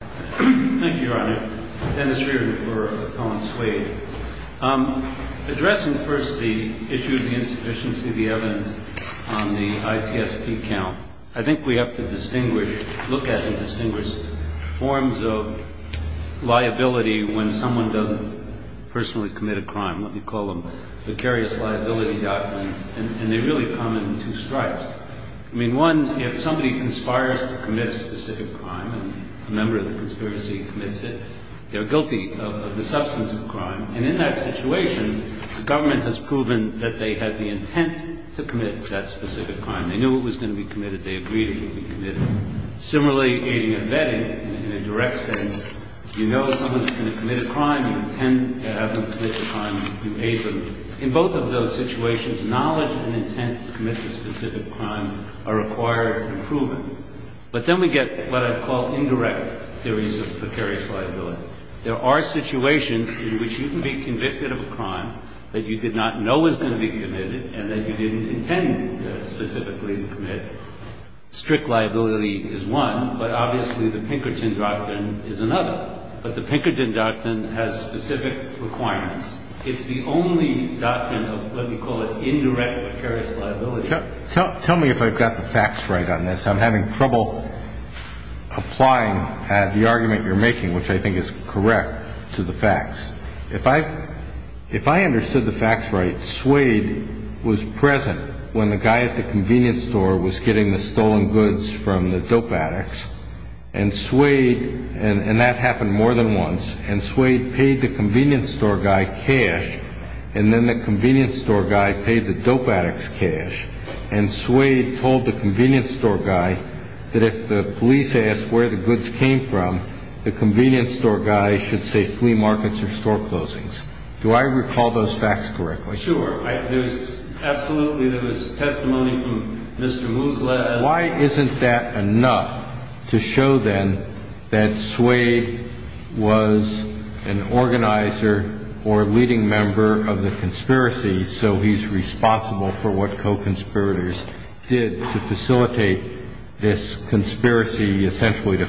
Thank you, Your Honor. Dennis Reardon for Appellant Swaid. Addressing first the issue of the insufficiency of the evidence on the ITSP count, I think we have to look at and distinguish forms of liability when someone doesn't personally commit a crime. Let me call them vicarious liability documents, and they really come in two stripes. I mean, one, if somebody conspires to commit a specific crime and a member of the conspiracy commits it, they're guilty of the substance of the crime. And in that situation, the government has proven that they had the intent to commit that specific crime. They knew it was going to be committed. They agreed it could be committed. Similarly, aiding and abetting, in a direct sense, you know someone's going to commit a crime. You intend to have them commit the crime. You aid them. In both of those situations, knowledge and intent to commit the specific crime are required and proven. But then we get what I call indirect theories of vicarious liability. There are situations in which you can be convicted of a crime that you did not know was going to be committed and that you didn't intend specifically to commit. Strict liability is one, but obviously the Pinkerton Doctrine is another. But the Pinkerton Doctrine has specific requirements. It's the only doctrine of what we call an indirect vicarious liability. Tell me if I've got the facts right on this. I'm having trouble applying the argument you're making, which I think is correct, to the facts. If I understood the facts right, Suede was present when the guy at the convenience store was getting the stolen goods from the dope addicts, and Suede, and that happened more than once, and Suede paid the convenience store guy cash, and then the convenience store guy paid the dope addicts cash, and Suede told the convenience store guy that if the police asked where the goods came from, the convenience store guy should say flea markets or store closings. Do I recall those facts correctly? Sure. Absolutely, there was testimony from Mr. Woosle. Why isn't that enough to show then that Suede was an organizer or a leading member of the conspiracy, so he's responsible for what co-conspirators did to facilitate this conspiracy, essentially to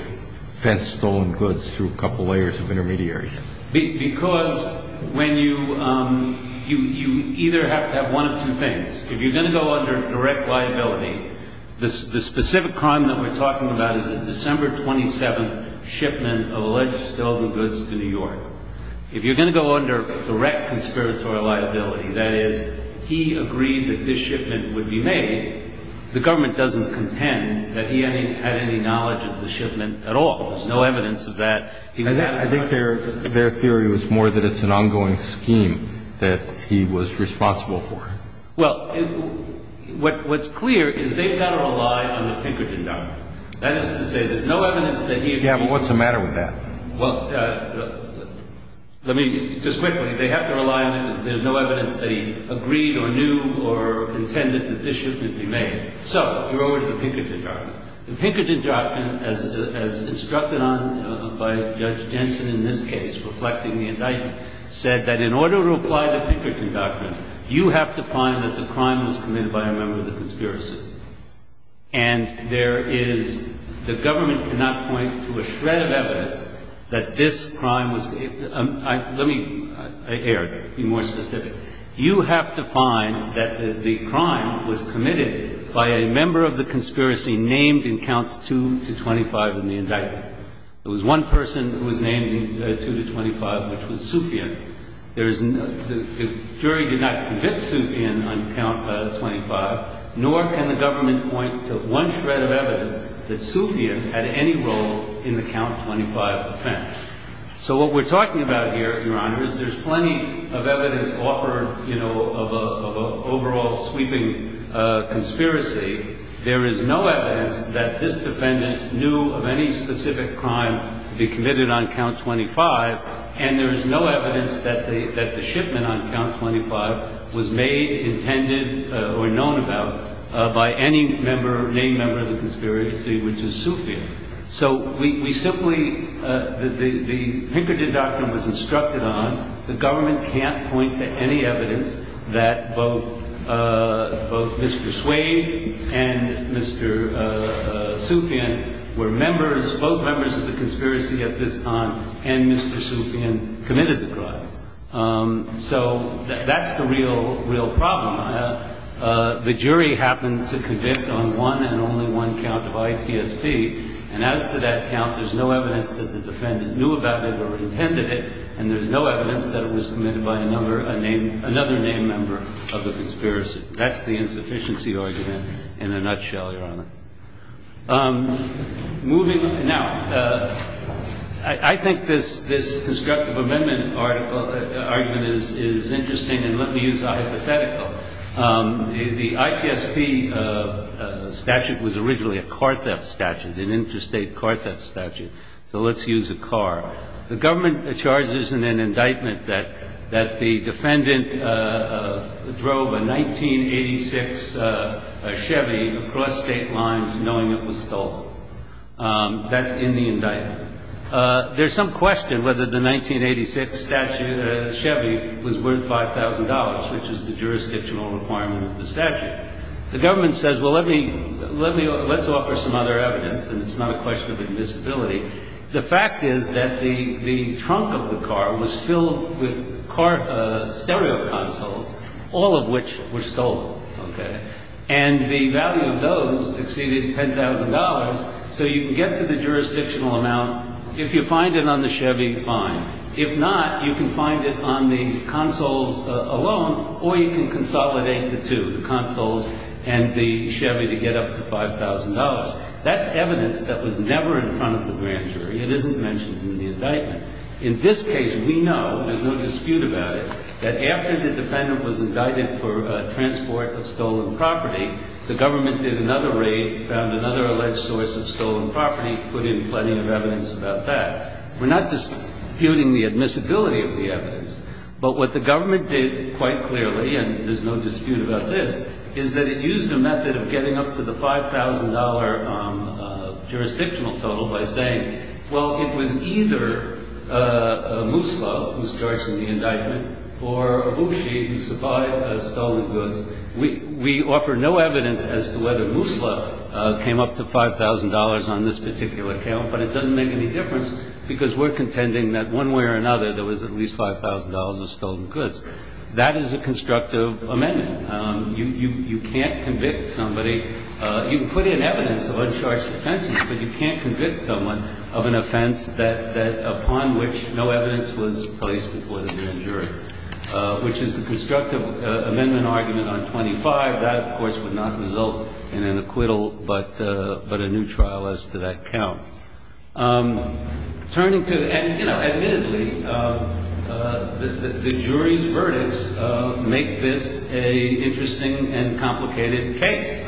fence stolen goods through a couple layers of intermediaries? Because when you either have to have one of two things. If you're going to go under direct liability, the specific crime that we're talking about is the December 27th shipment of alleged stolen goods to New York. If you're going to go under direct conspiratorial liability, that is he agreed that this shipment would be made, the government doesn't contend that he had any knowledge of the shipment at all. There's no evidence of that. I think their theory was more that it's an ongoing scheme that he was responsible for. Well, what's clear is they've got to rely on the Pinkerton Doctrine. That is to say there's no evidence that he agreed. Yeah, but what's the matter with that? Well, let me just quickly. They have to rely on it because there's no evidence they agreed or knew or intended that this shipment would be made. So you're over to the Pinkerton Doctrine. The Pinkerton Doctrine, as instructed on by Judge Jensen in this case, reflecting the indictment, said that in order to apply the Pinkerton Doctrine, you have to find that the crime was committed by a member of the conspiracy. And there is, the government cannot point to a shred of evidence that this crime was, let me air it, be more specific. You have to find that the crime was committed by a member of the conspiracy named in counts 2 to 25 in the indictment. It was one person who was named 2 to 25, which was Soufian. The jury did not convict Soufian on count 25, nor can the government point to one shred of evidence that Soufian had any role in the count 25 offense. So what we're talking about here, Your Honor, is there's plenty of evidence offered, you know, of an overall sweeping conspiracy. There is no evidence that this defendant knew of any specific crime to be committed on count 25, and there is no evidence that the shipment on count 25 was made, intended, or known about by any member, named member of the conspiracy, which is Soufian. So we simply, the Pinkerton Doctrine was instructed on. The government can't point to any evidence that both Mr. Suede and Mr. Soufian were members, both members of the conspiracy at this time, and Mr. Soufian committed the crime. So that's the real problem, Your Honor. The jury happened to convict on one and only one count of ITSP, and as to that count, there's no evidence that the defendant knew about it or intended it, and there's no evidence that it was committed by another named member of the conspiracy. That's the insufficiency argument in a nutshell, Your Honor. Moving now, I think this constructive amendment argument is interesting, and let me use a hypothetical. The ITSP statute was originally a car theft statute, an interstate car theft statute. So let's use a car. The government charges in an indictment that the defendant drove a 1986 Chevy across State lines knowing it was stolen. That's in the indictment. There's some question whether the 1986 statute, Chevy, was worth $5,000, which is the jurisdictional requirement of the statute. The government says, well, let me, let's offer some other evidence, and it's not a question of admissibility. The fact is that the trunk of the car was filled with stereo consoles, all of which were stolen, okay? And the value of those exceeded $10,000, so you can get to the jurisdictional amount. If you find it on the Chevy, fine. If not, you can find it on the consoles alone, or you can consolidate the two, the consoles and the Chevy, to get up to $5,000. That's evidence that was never in front of the grand jury. It isn't mentioned in the indictment. In this case, we know, there's no dispute about it, that after the defendant was indicted for transport of stolen property, the government did another raid, found another alleged source of stolen property, put in plenty of evidence about that. We're not disputing the admissibility of the evidence. But what the government did quite clearly, and there's no dispute about this, is that it used a method of getting up to the $5,000 jurisdictional total by saying, well, it was either Musla, who starts in the indictment, or Abushi, who supplied the stolen goods. We offer no evidence as to whether Musla came up to $5,000 on this particular account, but it doesn't make any difference because we're contending that one way or another there was at least $5,000 of stolen goods. That is a constructive amendment. You can't convict somebody. You can put in evidence of uncharged offenses, but you can't convict someone of an offense upon which no evidence was placed before the grand jury, which is the constructive amendment argument on 25. That, of course, would not result in an acquittal but a new trial as to that count. Turning to the end, you know, admittedly, the jury's verdicts make this an interesting and complicated case.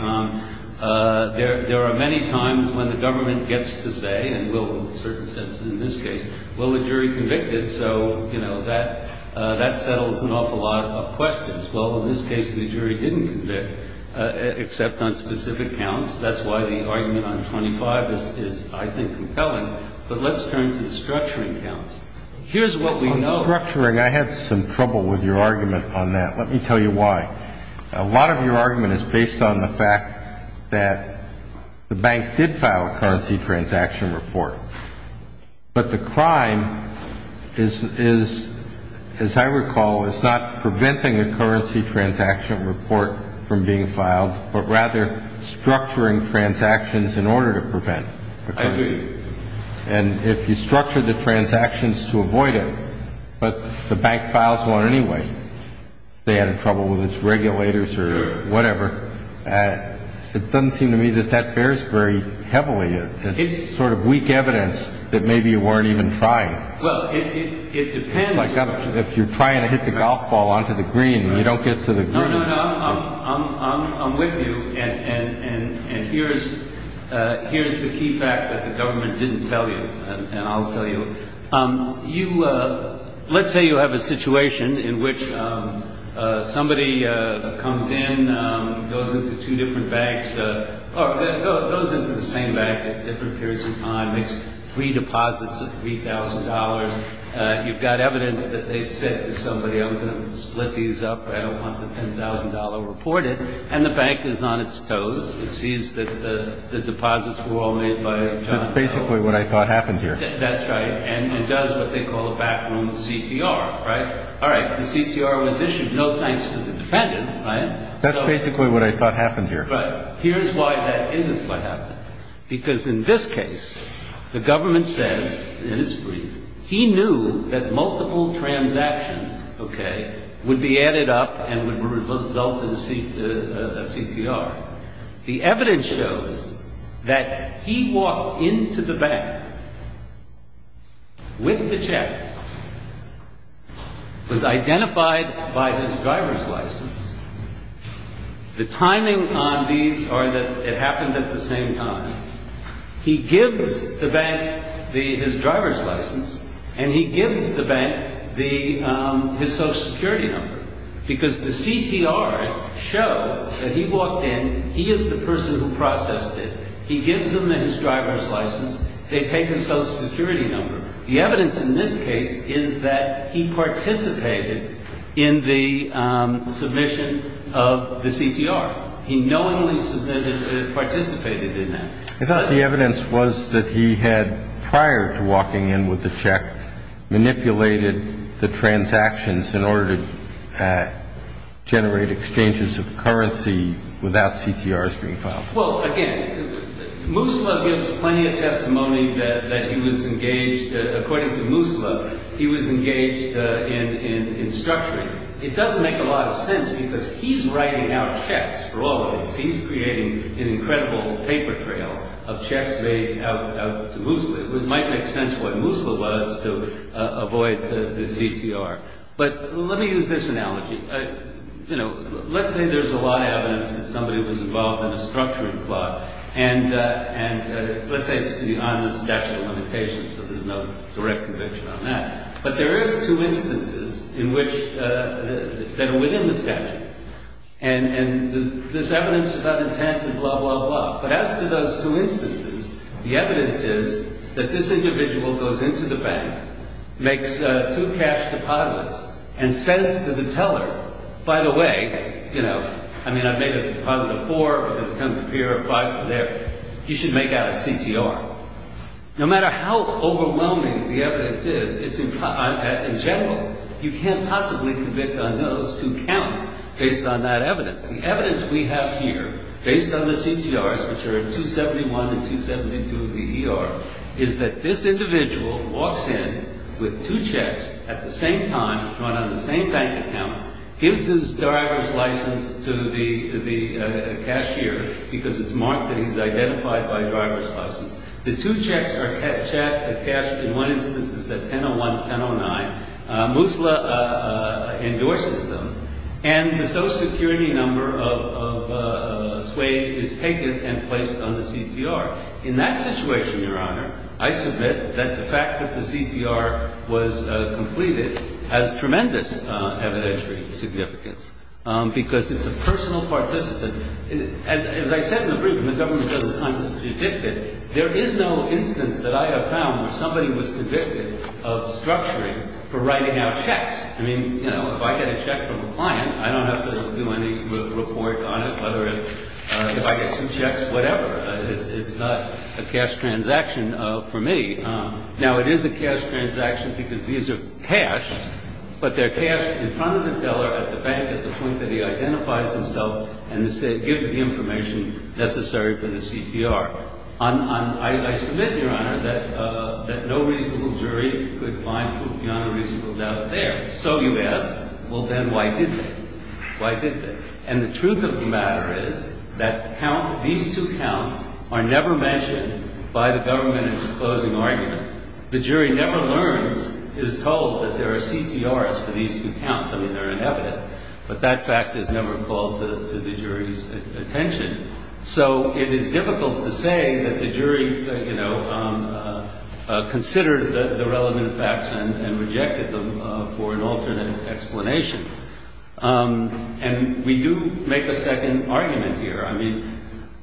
There are many times when the government gets to say, and will in a certain sense in this case, will the jury convict it? So, you know, that settles an awful lot of questions. Well, in this case, the jury didn't convict except on specific counts. That's why the argument on 25 is, I think, compelling. But let's turn to the structuring counts. Here's what we know. On structuring, I had some trouble with your argument on that. Let me tell you why. A lot of your argument is based on the fact that the bank did file a currency transaction report. But the crime is, as I recall, is not preventing a currency transaction report from being filed, but rather structuring transactions in order to prevent the currency. I agree. And if you structure the transactions to avoid it, but the bank files one anyway, they had trouble with its regulators or whatever, it doesn't seem to me that that bears very heavily. It's sort of weak evidence that maybe you weren't even trying. Well, it depends. It's like if you're trying to hit the golf ball onto the green and you don't get to the green. No, no, no. I'm with you. And here's the key fact that the government didn't tell you, and I'll tell you. Let's say you have a situation in which somebody comes in, goes into two different banks, or goes into the same bank at different periods of time, makes three deposits of $3,000. You've got evidence that they've said to somebody, I'm going to split these up. I don't want the $10,000 reported. And the bank is on its toes. It sees that the deposits were all made by John. That's basically what I thought happened here. That's right. And it does what they call a backroom CTR, right? All right. The CTR was issued, no thanks to the defendant, right? That's basically what I thought happened here. Right. Here's why that isn't what happened. Because in this case, the government says, and it's brief, he knew that multiple transactions, okay, would be added up and would result in a CTR. The evidence shows that he walked into the bank with the check, was identified by his driver's license. The timing on these are that it happened at the same time. He gives the bank his driver's license, and he gives the bank his Social Security number. Because the CTRs show that he walked in, he is the person who processed it. He gives them his driver's license. They take his Social Security number. The evidence in this case is that he participated in the submission of the CTR. He knowingly participated in that. I thought the evidence was that he had, prior to walking in with the check, manipulated the transactions in order to generate exchanges of currency without CTRs being filed. Well, again, Musla gives plenty of testimony that he was engaged, according to Musla, he was engaged in structuring. It doesn't make a lot of sense because he's writing out checks for all of these. He's creating an incredible paper trail of checks made out to Musla. It might make sense what Musla was to avoid the CTR. But let me use this analogy. Let's say there's a lot of evidence that somebody was involved in a structuring plot. And let's say it's beyond the statute of limitations, so there's no direct conviction on that. But there is two instances that are within the statute. And there's evidence about intent and blah, blah, blah. But as to those two instances, the evidence is that this individual goes into the bank, makes two cash deposits, and says to the teller, by the way, you know, I mean, I've made a deposit of four, or it's come to appear five from there. You should make out a CTR. No matter how overwhelming the evidence is, it's in general, you can't possibly convict on those two counts based on that evidence. And the evidence we have here, based on the CTRs, which are 271 and 272 of the ER, is that this individual walks in with two checks at the same time, drawn on the same bank account, gives his driver's license to the cashier because it's marked that he's identified by driver's license. The two checks are cashed in one instance. It's at 10.01, 10.09. Moosla endorses them. And the social security number of suede is taken and placed on the CTR. In that situation, Your Honor, I submit that the fact that the CTR was completed has tremendous evidentiary significance because it's a personal participant. As I said in the brief, and the government doesn't kind of predict it, there is no instance that I have found where somebody was convicted of structuring for writing out checks. I mean, you know, if I get a check from a client, I don't have to do any report on it, whether it's if I get two checks, whatever. It's not a cash transaction for me. Now, it is a cash transaction because these are cashed, but they're cashed in front of the teller at the bank at the point that he identifies himself and gives the information necessary for the CTR. I submit, Your Honor, that no reasonable jury could find Lufiano reasonable doubt there. So you ask, well, then why didn't they? Why didn't they? And the truth of the matter is that these two counts are never mentioned by the government in its closing argument. The jury never learns, is told, that there are CTRs for these two counts. I mean, they're in evidence, but that fact is never called to the jury's attention. So it is difficult to say that the jury, you know, considered the relevant facts and rejected them for an alternate explanation. And we do make a second argument here. I mean,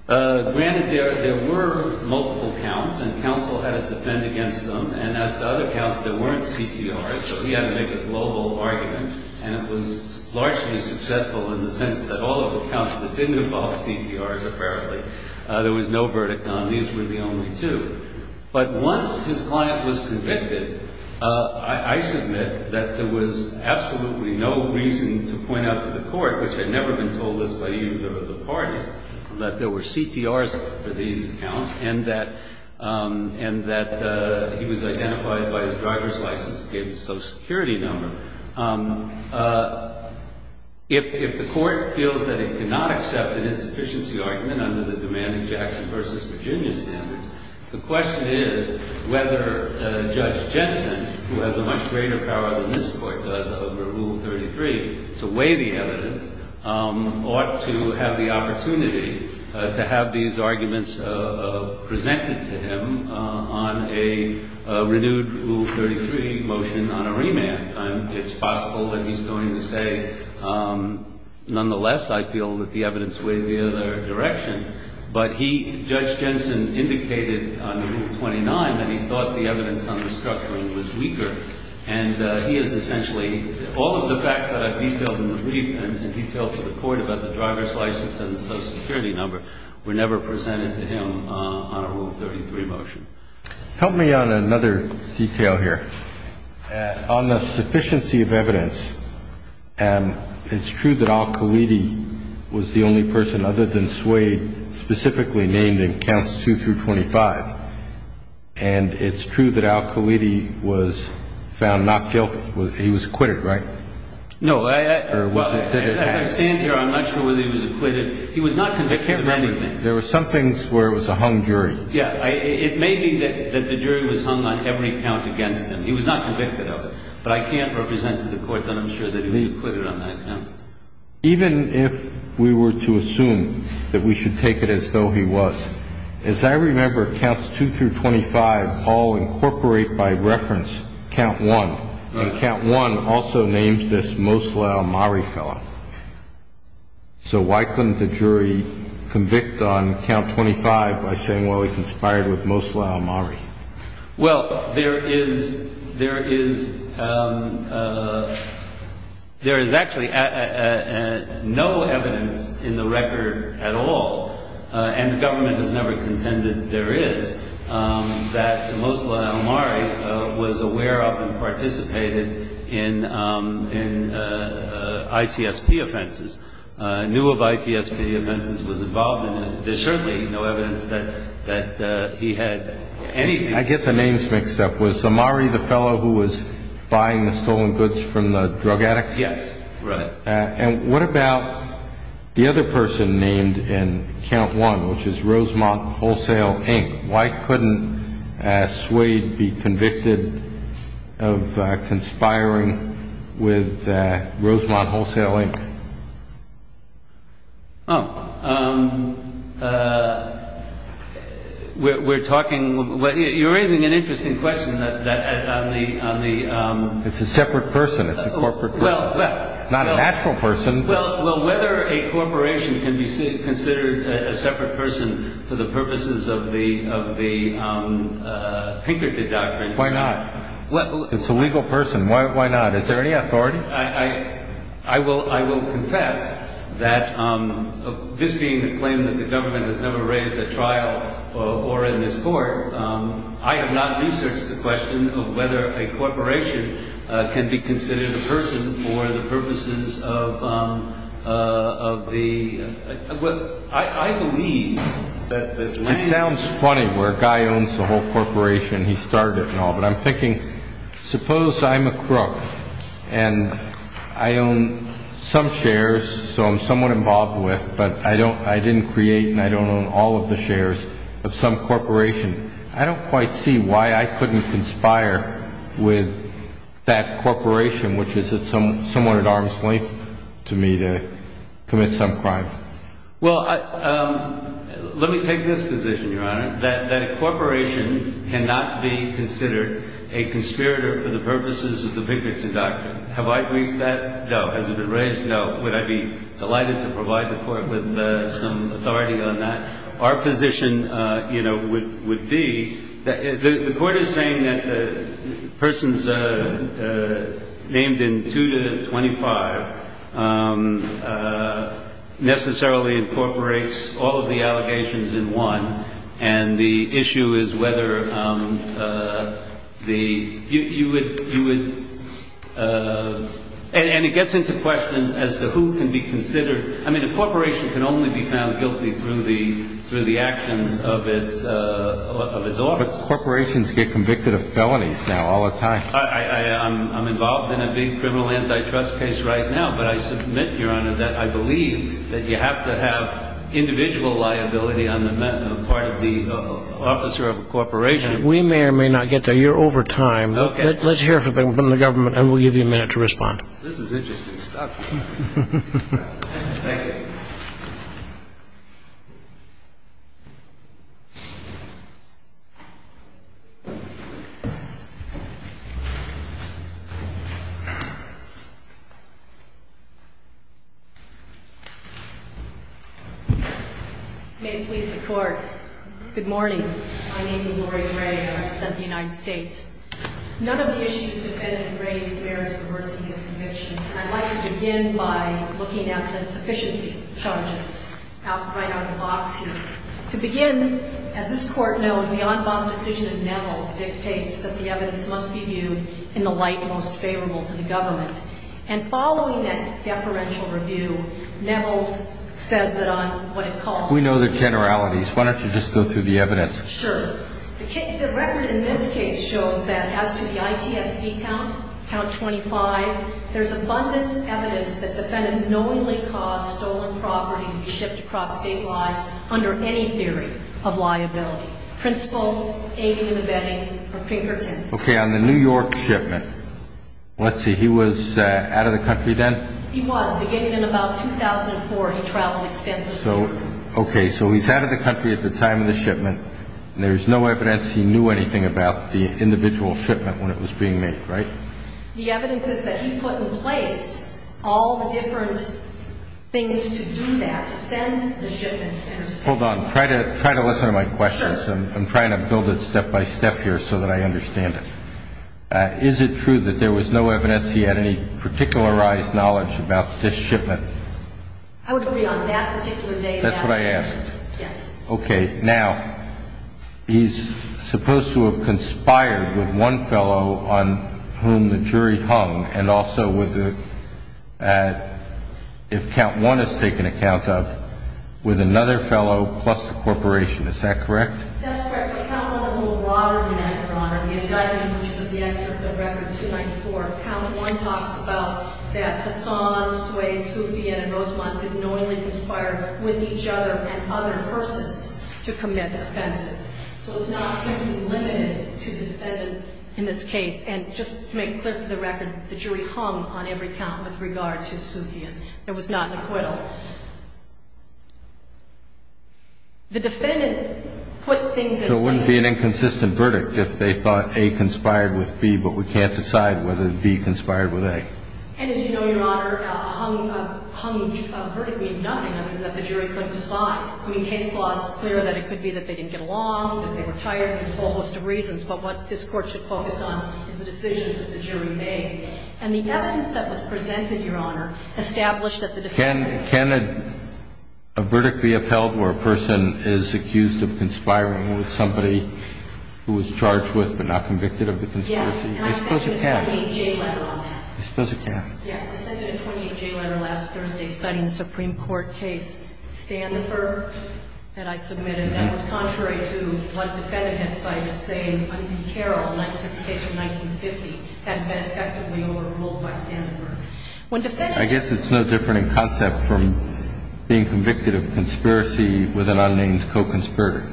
granted, there were multiple counts, and counsel had to defend against them, and as to other counts, there weren't CTRs, so we had to make a global argument, and it was largely successful in the sense that all of the counts that didn't involve CTRs, apparently, there was no verdict on. These were the only two. But once his client was convicted, I submit that there was absolutely no reason to point out to the court, which had never been told this by either of the parties, that there were CTRs for these counts and that he was identified by his driver's license and gave his social security number. If the court feels that it cannot accept an insufficiency argument under the demanding Jackson v. Virginia standards, the question is whether Judge Jensen, who has a much greater power than this Court does over Rule 33 to weigh the evidence, ought to have the opportunity to have these arguments presented to him on a renewed Rule 33 motion on a remand. It's possible that he's going to say, nonetheless, I feel that the evidence weighed the other direction, but he, Judge Jensen, indicated on Rule 29 that he thought the evidence on the structuring was weaker, and he has essentially, all of the facts that I've detailed in the brief and detailed to the court about the driver's license and the social security number were never presented to him on a Rule 33 motion. Help me on another detail here. On the sufficiency of evidence, it's true that Al-Khalidi was the only person, other than Swade, specifically named in Counts 2 through 25. And it's true that Al-Khalidi was found not guilty. He was acquitted, right? No. As I stand here, I'm not sure whether he was acquitted. He was not convicted of anything. I can't remember. There were some things where it was a hung jury. Yeah. It may be that the jury was hung on every count against him. He was not convicted of it. But I can't represent to the court that I'm sure that he was acquitted on that count. Even if we were to assume that we should take it as though he was, as I remember Counts 2 through 25 all incorporate by reference Count 1, and Count 1 also names this Moslau Mari fellow. So why couldn't the jury convict on Count 25 by saying, well, he conspired with Moslau Mari? Well, there is actually no evidence in the record at all, and the government has never contended there is, that Moslau Mari was aware of and participated in ITSP offenses, knew of ITSP offenses, was involved in them. There's certainly no evidence that he had anything. I get the names mixed up. Was Mari the fellow who was buying the stolen goods from the drug addicts? Yes. Right. And what about the other person named in Count 1, which is Rosemont Wholesale, Inc.? Why couldn't Swade be convicted of conspiring with Rosemont Wholesale, Inc.? Oh. We're talking – you're raising an interesting question on the – It's a separate person. It's a corporate person. Well – Not a natural person. Well, whether a corporation can be considered a separate person for the purposes of the Pinkerton Doctrine – Why not? It's a legal person. Why not? Is there any authority? I will confess that this being a claim that the government has never raised at trial or in this court, I have not researched the question of whether a corporation can be considered a person for the purposes of the – I believe that – It sounds funny where a guy owns the whole corporation. He started it and all. But I'm thinking, suppose I'm a crook and I own some shares, so I'm somewhat involved with, but I didn't create and I don't own all of the shares of some corporation. I don't quite see why I couldn't conspire with that corporation, which is somewhat at arm's length to me to commit some crime. Well, let me take this position, Your Honor, that a corporation cannot be considered a conspirator for the purposes of the Pinkerton Doctrine. Have I briefed that? No. Has it been raised? No. Would I be delighted to provide the Court with some authority on that? Our position, you know, would be – the Court is saying that persons named in 2 to 25 necessarily incorporates all of the allegations in one, and the issue is whether the – you would – and it gets into questions as to who can be considered – I mean, a corporation can only be found guilty through the actions of its office. But corporations get convicted of felonies now all the time. I'm involved in a big criminal antitrust case right now, but I submit, Your Honor, that I believe that you have to have individual liability on the part of the officer of a corporation. We may or may not get there. You're over time. Okay. Let's hear from the government, and we'll give you a minute to respond. This is interesting stuff. Thank you. May it please the Court. Good morning. My name is Laurie Gray, and I represent the United States. None of the issues defended in Gray's merits reversing his conviction. I'd like to begin by looking at the sufficiency charges right out of the box here. To begin, as this Court knows, the en banc decision of Nevels dictates that the evidence must be viewed in the light most favorable to the government. And following that deferential review, Nevels says that on what it calls – We know the generalities. Why don't you just go through the evidence? Sure. The record in this case shows that as to the ITSB count, count 25, there's abundant evidence that the defendant knowingly caused stolen property to be shipped across state lines under any theory of liability. Principal, aiding and abetting, or Pinkerton. Okay. On the New York shipment, let's see. He was out of the country then? He was. Beginning in about 2004, he traveled extensively. Okay. So he's out of the country at the time of the shipment. There's no evidence he knew anything about the individual shipment when it was being made, right? The evidence is that he put in place all the different things to do that, send the shipments. Hold on. Try to listen to my questions. Sure. I'm trying to build it step by step here so that I understand it. Is it true that there was no evidence he had any particularized knowledge about this shipment? I would agree on that particular day. That's what I asked. Yes. Okay. Now, he's supposed to have conspired with one fellow on whom the jury hung, and also with the ‑‑ if count one is taken account of, with another fellow plus the corporation. Is that correct? That's correct. But count one is a little broader than that, Your Honor. The indictment, which is the excerpt of record 294, count one talks about that Hassan, Sway, Sufian, and Rosamond didn't knowingly conspire with each other and other persons to commit offenses. So it's not simply limited to the defendant in this case. And just to make clear for the record, the jury hung on every count with regard to Sufian. There was not an acquittal. The defendant put things in place. And there would be an inconsistent verdict if they thought A conspired with B, but we can't decide whether B conspired with A. And as you know, Your Honor, a hung verdict means nothing other than that the jury couldn't decide. I mean, case law is clear that it could be that they didn't get along, that they were tired, there's a whole host of reasons. But what this Court should focus on is the decision that the jury made. And the evidence that was presented, Your Honor, established that the defendant ‑‑ Can a verdict be upheld where a person is accused of conspiring with somebody who was charged with but not convicted of the conspiracy? Yes. I suppose it can. And I sent you a 28J letter on that. I suppose it can. Yes. I sent you a 28J letter last Thursday citing the Supreme Court case Standenberg that I submitted. That was contrary to what the defendant had cited, saying, I mean, Carroll, a case from 1950, hadn't been effectively overruled by Standenberg. I guess it's no different in concept from being convicted of conspiracy with an unnamed co‑conspirator.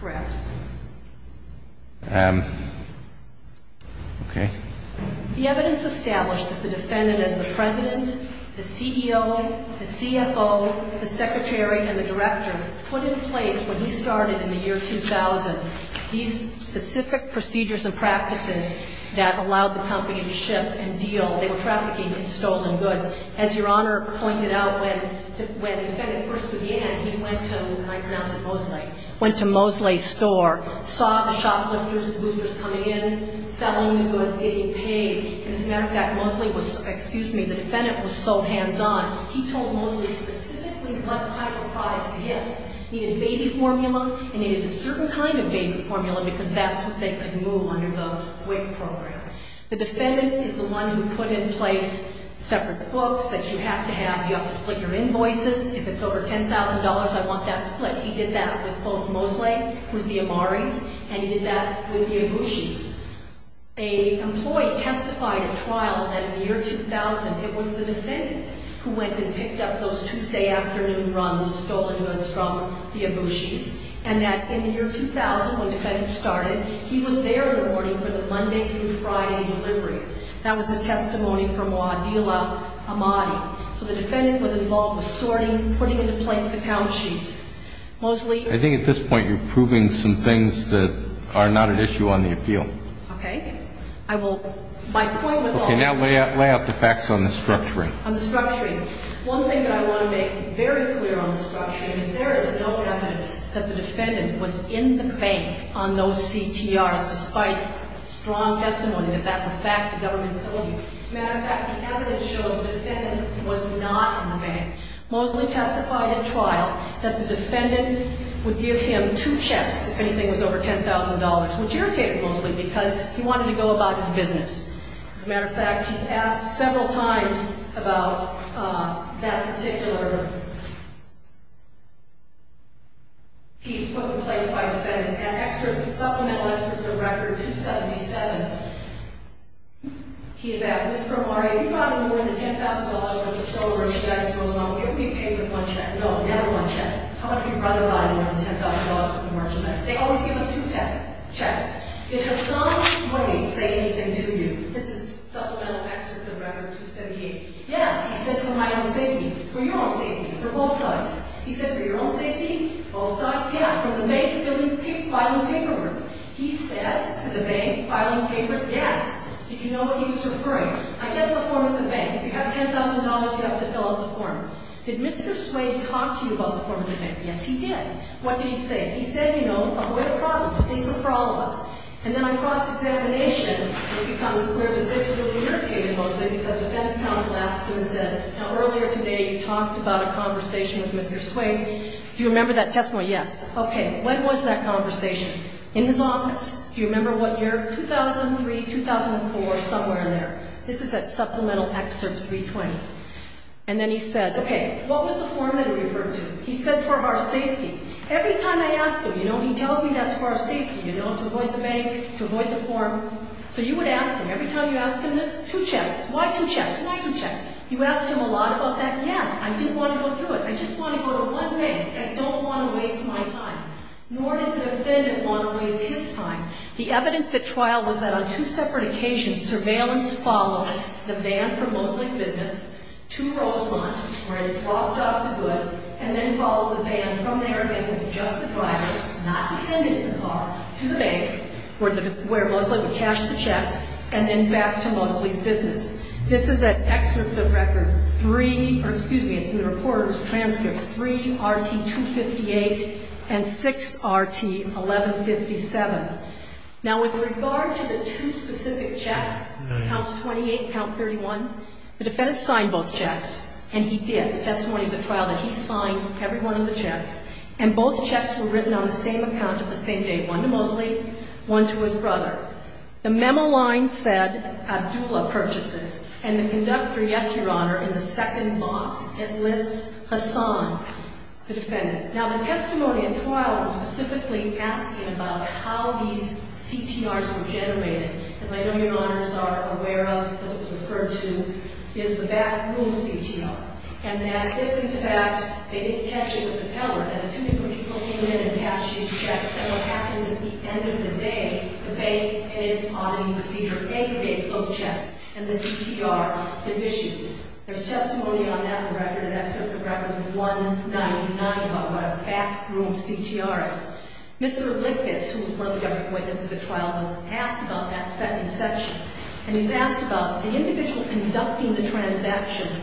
Correct. Okay. The evidence established that the defendant, as the President, the CEO, the CFO, the Secretary, and the Director, put in place when he started in the year 2000, these specific procedures and practices that allowed the company to ship and deal, they were trafficking in stolen goods. As Your Honor pointed out, when the defendant first began, he went to, and I pronounce it Mosley, went to Mosley's store, saw the shoplifters, the boosters coming in, selling the goods, getting paid. As a matter of fact, Mosley was, excuse me, the defendant was so hands on, he told Mosley specifically what type of products to get. He needed baby formula and he needed a certain kind of baby formula because that's what they could move under the WIC program. The defendant is the one who put in place separate books that you have to have, you have to split your invoices. If it's over $10,000, I want that split. He did that with both Mosley, who's the Amaris, and he did that with the Ibushi's. An employee testified at trial that in the year 2000, it was the defendant who went and picked up those Tuesday afternoon runs of stolen goods from the Ibushi's and that in the year 2000, when defendants started, he was there in the morning for the Monday through Friday deliveries. That was the testimony from Wadila Amadi. So the defendant was involved with sorting, putting into place the account sheets. Mosley. I think at this point you're proving some things that are not at issue on the appeal. Okay. I will, my point with all this. Okay, now lay out the facts on the structuring. On the structuring. One thing that I want to make very clear on the structuring is there is no evidence that the defendant was in the bank on those CTRs, despite strong testimony that that's a fact the government told you. As a matter of fact, the evidence shows the defendant was not in the bank. Mosley testified at trial that the defendant would give him two checks if anything was over $10,000, which irritated Mosley because he wanted to go about his business. As a matter of fact, he's asked several times about that particular piece put in place by the defendant. In an excerpt, supplemental excerpt of Record 277, he's asked, Mr. Amadi, if you brought him more than $10,000 worth of stolen merchandise, he goes, well, he'll be paid with one check. No, never one check. How about if your brother brought him more than $10,000 worth of merchandise? They always give us two checks. Did Hassan Sway say anything to you? This is supplemental excerpt of Record 278. Yes, he said, for my own safety, for your own safety, for both sides. He said, for your own safety, both sides? Yeah, from the bank filing paperwork. He said, the bank filing paperwork? Yes. Did you know what he was referring? I guess the form of the bank. If you have $10,000, you have to fill out the form. Did Mr. Sway talk to you about the form of the bank? Yes, he did. What did he say? He said, you know, avoid a problem. It's a secret for all of us. And then on cross-examination, it becomes clear that this will be irritated mostly because defense counsel asks him and says, now, earlier today, you talked about a conversation with Mr. Sway. Do you remember that testimony? Yes. Okay. When was that conversation? In his office? Do you remember what year? 2003, 2004, somewhere in there. This is that supplemental excerpt 320. And then he says, okay, what was the form that he referred to? He said, for our safety. Every time I ask him, you know, he tells me that's for our safety, you know, to avoid the bank, to avoid the form. So you would ask him, every time you ask him this, two checks. Why two checks? Why two checks? You asked him a lot about that. Yes, I didn't want to go through it. I just want to go to one bank. I don't want to waste my time. Nor did the defendant want to waste his time. The evidence at trial was that on two separate occasions, surveillance followed the van from Mosley's business to Roselant, where it dropped off the goods, and then followed the van from there, again, with just the driver, not dependent on the car, to the bank, where Mosley would cash the checks, and then back to Mosley's business. This is an excerpt of record three, or excuse me, it's in the reporter's transcripts, 3RT258 and 6RT1157. Now, with regard to the two specific checks, count 28, count 31, the defendant signed both checks, and he did. The testimony at the trial that he signed every one of the checks, and both checks were written on the same account at the same date, one to Mosley, one to his brother. The memo line said Abdullah Purchases, and the conductor, yes, Your Honor, in the second box, it lists Hassan, the defendant. Now, the testimony at trial was specifically asking about how these CTRs were generated, as I know Your Honors are aware of, because it was referred to, is the back room CTR, and that if, in fact, they didn't catch it with the teller, that if two people came in and cashed these checks, then what happens at the end of the day, the bank, in its auditing procedure, aggregates those checks, and the CTR is issued. There's testimony on that record, and that took the record to 199, about what a back room CTR is. Mr. Lippis, who is one of the other witnesses at trial, was asked about that second section, and he's asked about the individual conducting the transaction.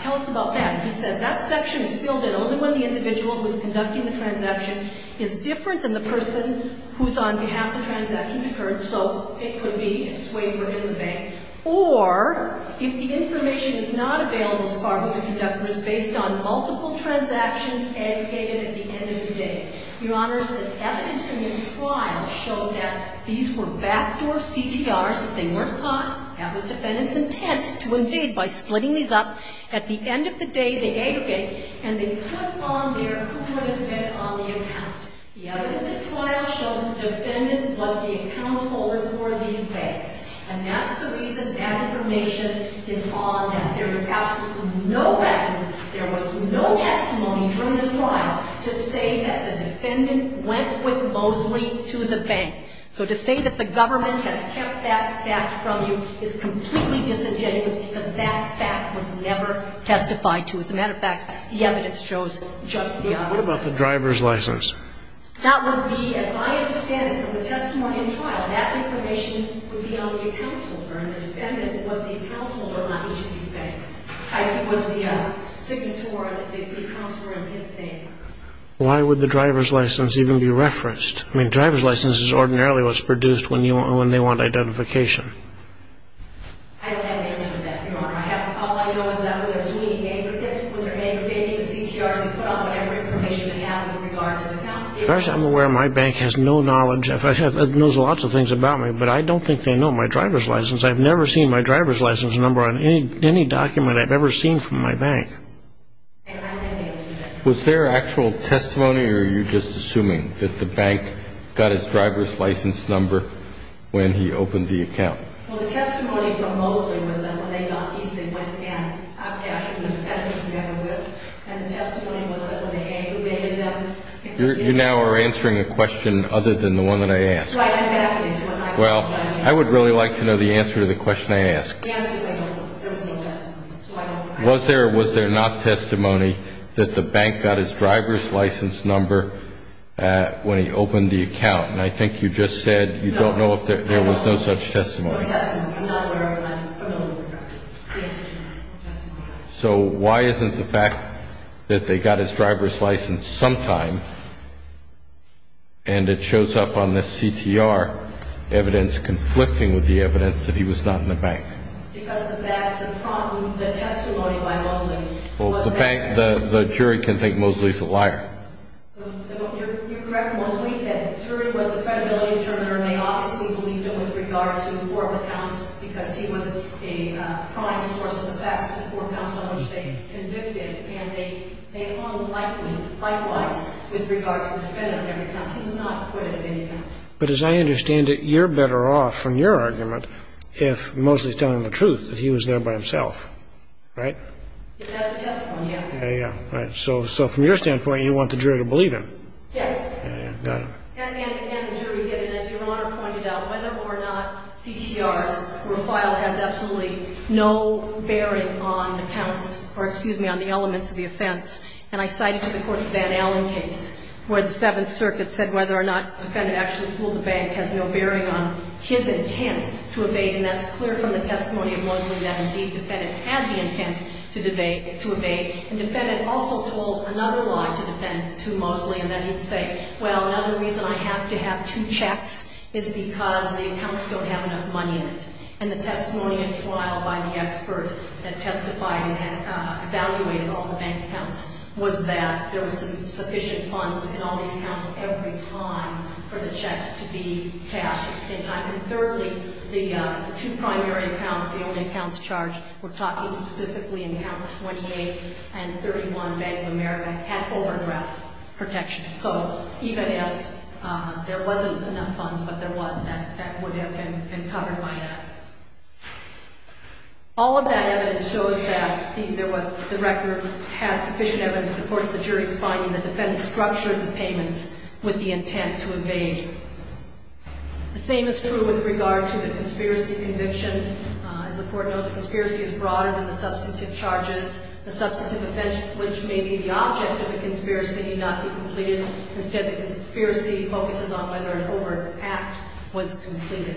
Tell us about that. He says that section is filled in only when the individual who is conducting the transaction is different than the person who is on behalf of the transaction occurred, so it could be a swaper in the bank, or if the information is not available as far as the conductor is based on multiple transactions aggregated at the end of the day. Your Honors, the evidence in this trial showed that these were back door CTRs, that they weren't caught. That was defendant's intent to invade by splitting these up. At the end of the day, they aggregate, and they put on there who would have been on the account. The evidence at trial showed the defendant was the account holder for these banks, and that's the reason that information is on that. There is absolutely no record. There was no testimony during the trial to say that the defendant went with Mosley to the bank. So to say that the government has kept that fact from you is completely disingenuous because that fact was never testified to. As a matter of fact, the evidence shows just the opposite. What about the driver's license? That would be, as I understand it from the testimony in trial, that information would be on the account holder, and the defendant was the account holder on each of these banks. He was the signatory, the counselor in his favor. Why would the driver's license even be referenced? I mean, driver's license is ordinarily what's produced when they want identification. I don't have an answer to that, Your Honor. All I know is that when they're doing the aggregate, when they're aggregating the CTRs, they put on whatever information they have in regards to the account. As far as I'm aware, my bank has no knowledge. It knows lots of things about me, but I don't think they know my driver's license. I've never seen my driver's license number on any document I've ever seen from my bank. Was there actual testimony, or are you just assuming that the bank got his driver's license number when he opened the account? Well, the testimony from Mosley was that when they got these, they went to get hot cash from the defendant's neighborhood, and the testimony was that when they aggregated them. You now are answering a question other than the one that I asked. That's right. Well, I would really like to know the answer to the question I asked. Was there or was there not testimony that the bank got his driver's license number when he opened the account? And I think you just said you don't know if there was no such testimony. No, there was no testimony. I'm not aware of my familial connection. So why isn't the fact that they got his driver's license sometime, and it shows up on this CTR evidence conflicting with the evidence that he was not in the bank? Because the facts and the testimony by Mosley was there. Well, the bank, the jury can think Mosley's a liar. You're correct, Mosley did. The jury was the credibility determiner, and they obviously believed him with regard to the four accounts because he was a prime source of the facts, the four accounts on which they convicted. And they all like him, likewise, with regard to the defendant. He was not acquitted of any counts. But as I understand it, you're better off, from your argument, if Mosley's telling the truth, that he was there by himself, right? That's the testimony, yes. So from your standpoint, you want the jury to believe him. Yes. And again, the jury did, and as Your Honor pointed out, whether or not CTR's profile has absolutely no bearing on the counts, or excuse me, on the elements of the offense. And I cited to the court the Van Allen case, where the Seventh Circuit said whether or not the defendant actually fooled the bank has no bearing on his intent to evade. And that's clear from the testimony of Mosley that, indeed, the defendant had the intent to evade. And the defendant also told another lie to defend to Mosley, and that he'd say, well, another reason I have to have two checks is because the accounts don't have enough money in it. And the testimony and trial by the expert that testified and had evaluated all the bank accounts was that there was sufficient funds in all these accounts every time for the checks to be cashed at the same time. And thirdly, the two primary accounts, the only accounts charged, we're talking specifically in Count 28 and 31 Bank of America, had overdraft protection. So even if there wasn't enough funds, but there was, that would have been covered by that. All of that evidence shows that the record has sufficient evidence to support the jury's finding that the defendant structured the payments with the intent to evade. The same is true with regard to the conspiracy conviction. As the court knows, the conspiracy is broader than the substantive charges. The substantive offense, which may be the object of the conspiracy, may not be completed. Instead, the conspiracy focuses on whether an overt act was completed.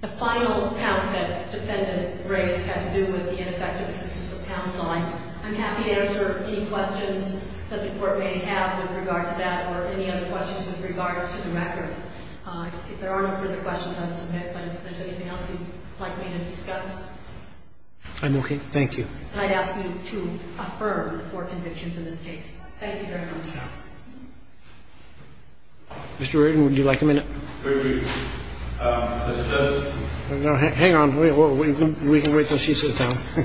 The final account that the defendant raised had to do with the ineffective assistance of counsel. I'm happy to answer any questions that the Court may have with regard to that or any other questions with regard to the record. If there are no further questions, I'll submit. But if there's anything else you'd like me to discuss. I'm okay. Thank you. And I'd ask you to affirm the four convictions in this case. Thank you very much. Mr. Reardon, would you like a minute? Very briefly. No, hang on. We can wait until she sits down. I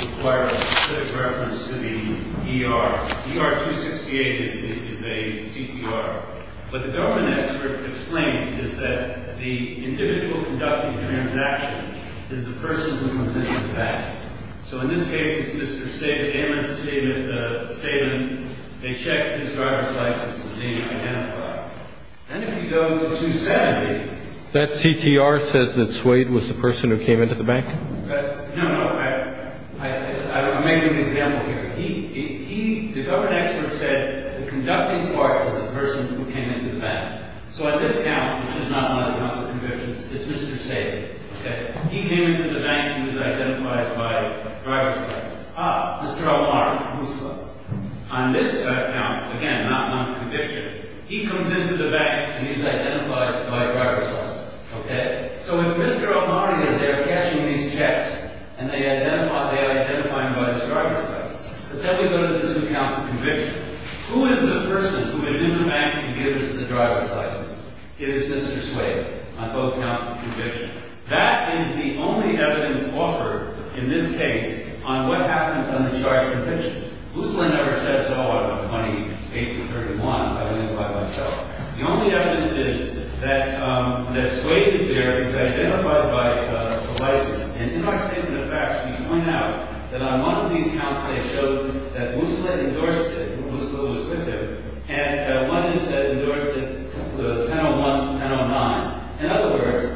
require a quick reference to the ER. ER 268 is a CTR. What the government expert explained is that the individual conducting the transaction is the person who comes into the bank. So in this case, it's Mr. Amos Saban. They checked his driver's license and it didn't identify him. And if you go to 270. That CTR says that Swade was the person who came into the bank? No, no. I'm making an example here. He, the government expert said the conducting part is the person who came into the bank. So at this count, which is not one of the counts of convictions, it's Mr. Saban. He came into the bank and he's identified by driver's license. Ah, Mr. El-Mahdi. On this count, again, not one conviction, he comes into the bank and he's identified by driver's license. So if Mr. El-Mahdi is there cashing these checks and they identify him by his driver's license. But then we go to the different counts of convictions. Who is the person who is in the bank and gave us the driver's license? It is Mr. Swade on both counts of conviction. That is the only evidence offered in this case on what happened on the charge of conviction. Musleh never said at all on 28th or 31st. I don't know by myself. The only evidence is that, um, that Swade is there. He's identified by, uh, the license. And in our statement of facts, we point out that on one of these counts they showed that Musleh endorsed it. Musleh was with him. And, uh, one, he said, endorsed it with a 10-01, 10-09. In other words,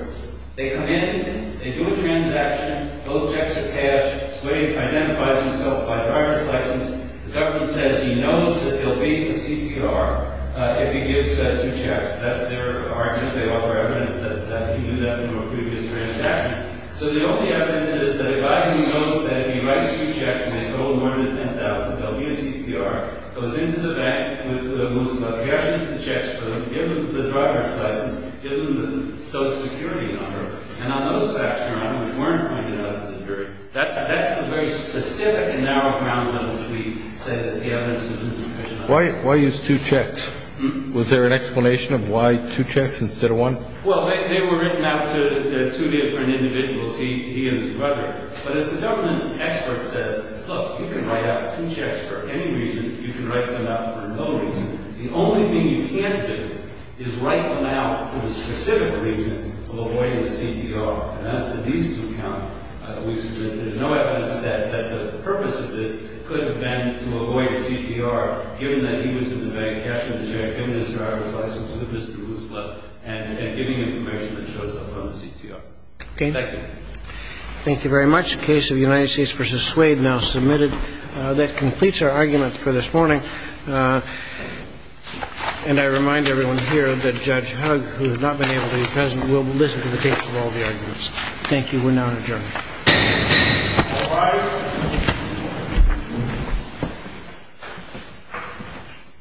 they come in, they do a transaction. Both checks are cashed. Swade identifies himself by driver's license. The government says he knows that he'll be in the CTR, uh, if he gives, uh, two checks. That's their argument. They offer evidence that, uh, he knew that from a previous transaction. So the only evidence is that a guy who knows that if he writes two checks and told more than 10,000 that he'll be in CTR goes into the bank with, uh, Musleh. He actually gives the checks to him. Gives him the driver's license. Gives him the social security number. And on those facts, Your Honor, which weren't pointed out in the jury, that's, that's a very specific and narrow ground on which we say that the evidence was insufficient. Why, why use two checks? Mm-hmm. Was there an explanation of why two checks instead of one? Well, they, they were written out to, uh, two different individuals, he, he and his brother. But as the government expert says, look, you can write out two checks for any reason. You can write them out for no reason. The only thing you can't do is write them out for the specific reason of avoiding the CTR. And as to these two counts, uh, there's no evidence that, that the purpose of this could have been to avoid CTR given that he was in the bank, cashing the check, giving his driver's license, giving this to Musleh, and, and giving information that shows up on the CTR. Okay. Thank you. All right. Thank you very much. The case of United States v. Suede now submitted. Uh, that completes our argument for this morning. Uh, and I remind everyone here that Judge Hugg, who has not been able to be present, will listen to the case of all the arguments. Thank you. We're now adjourned. All rise.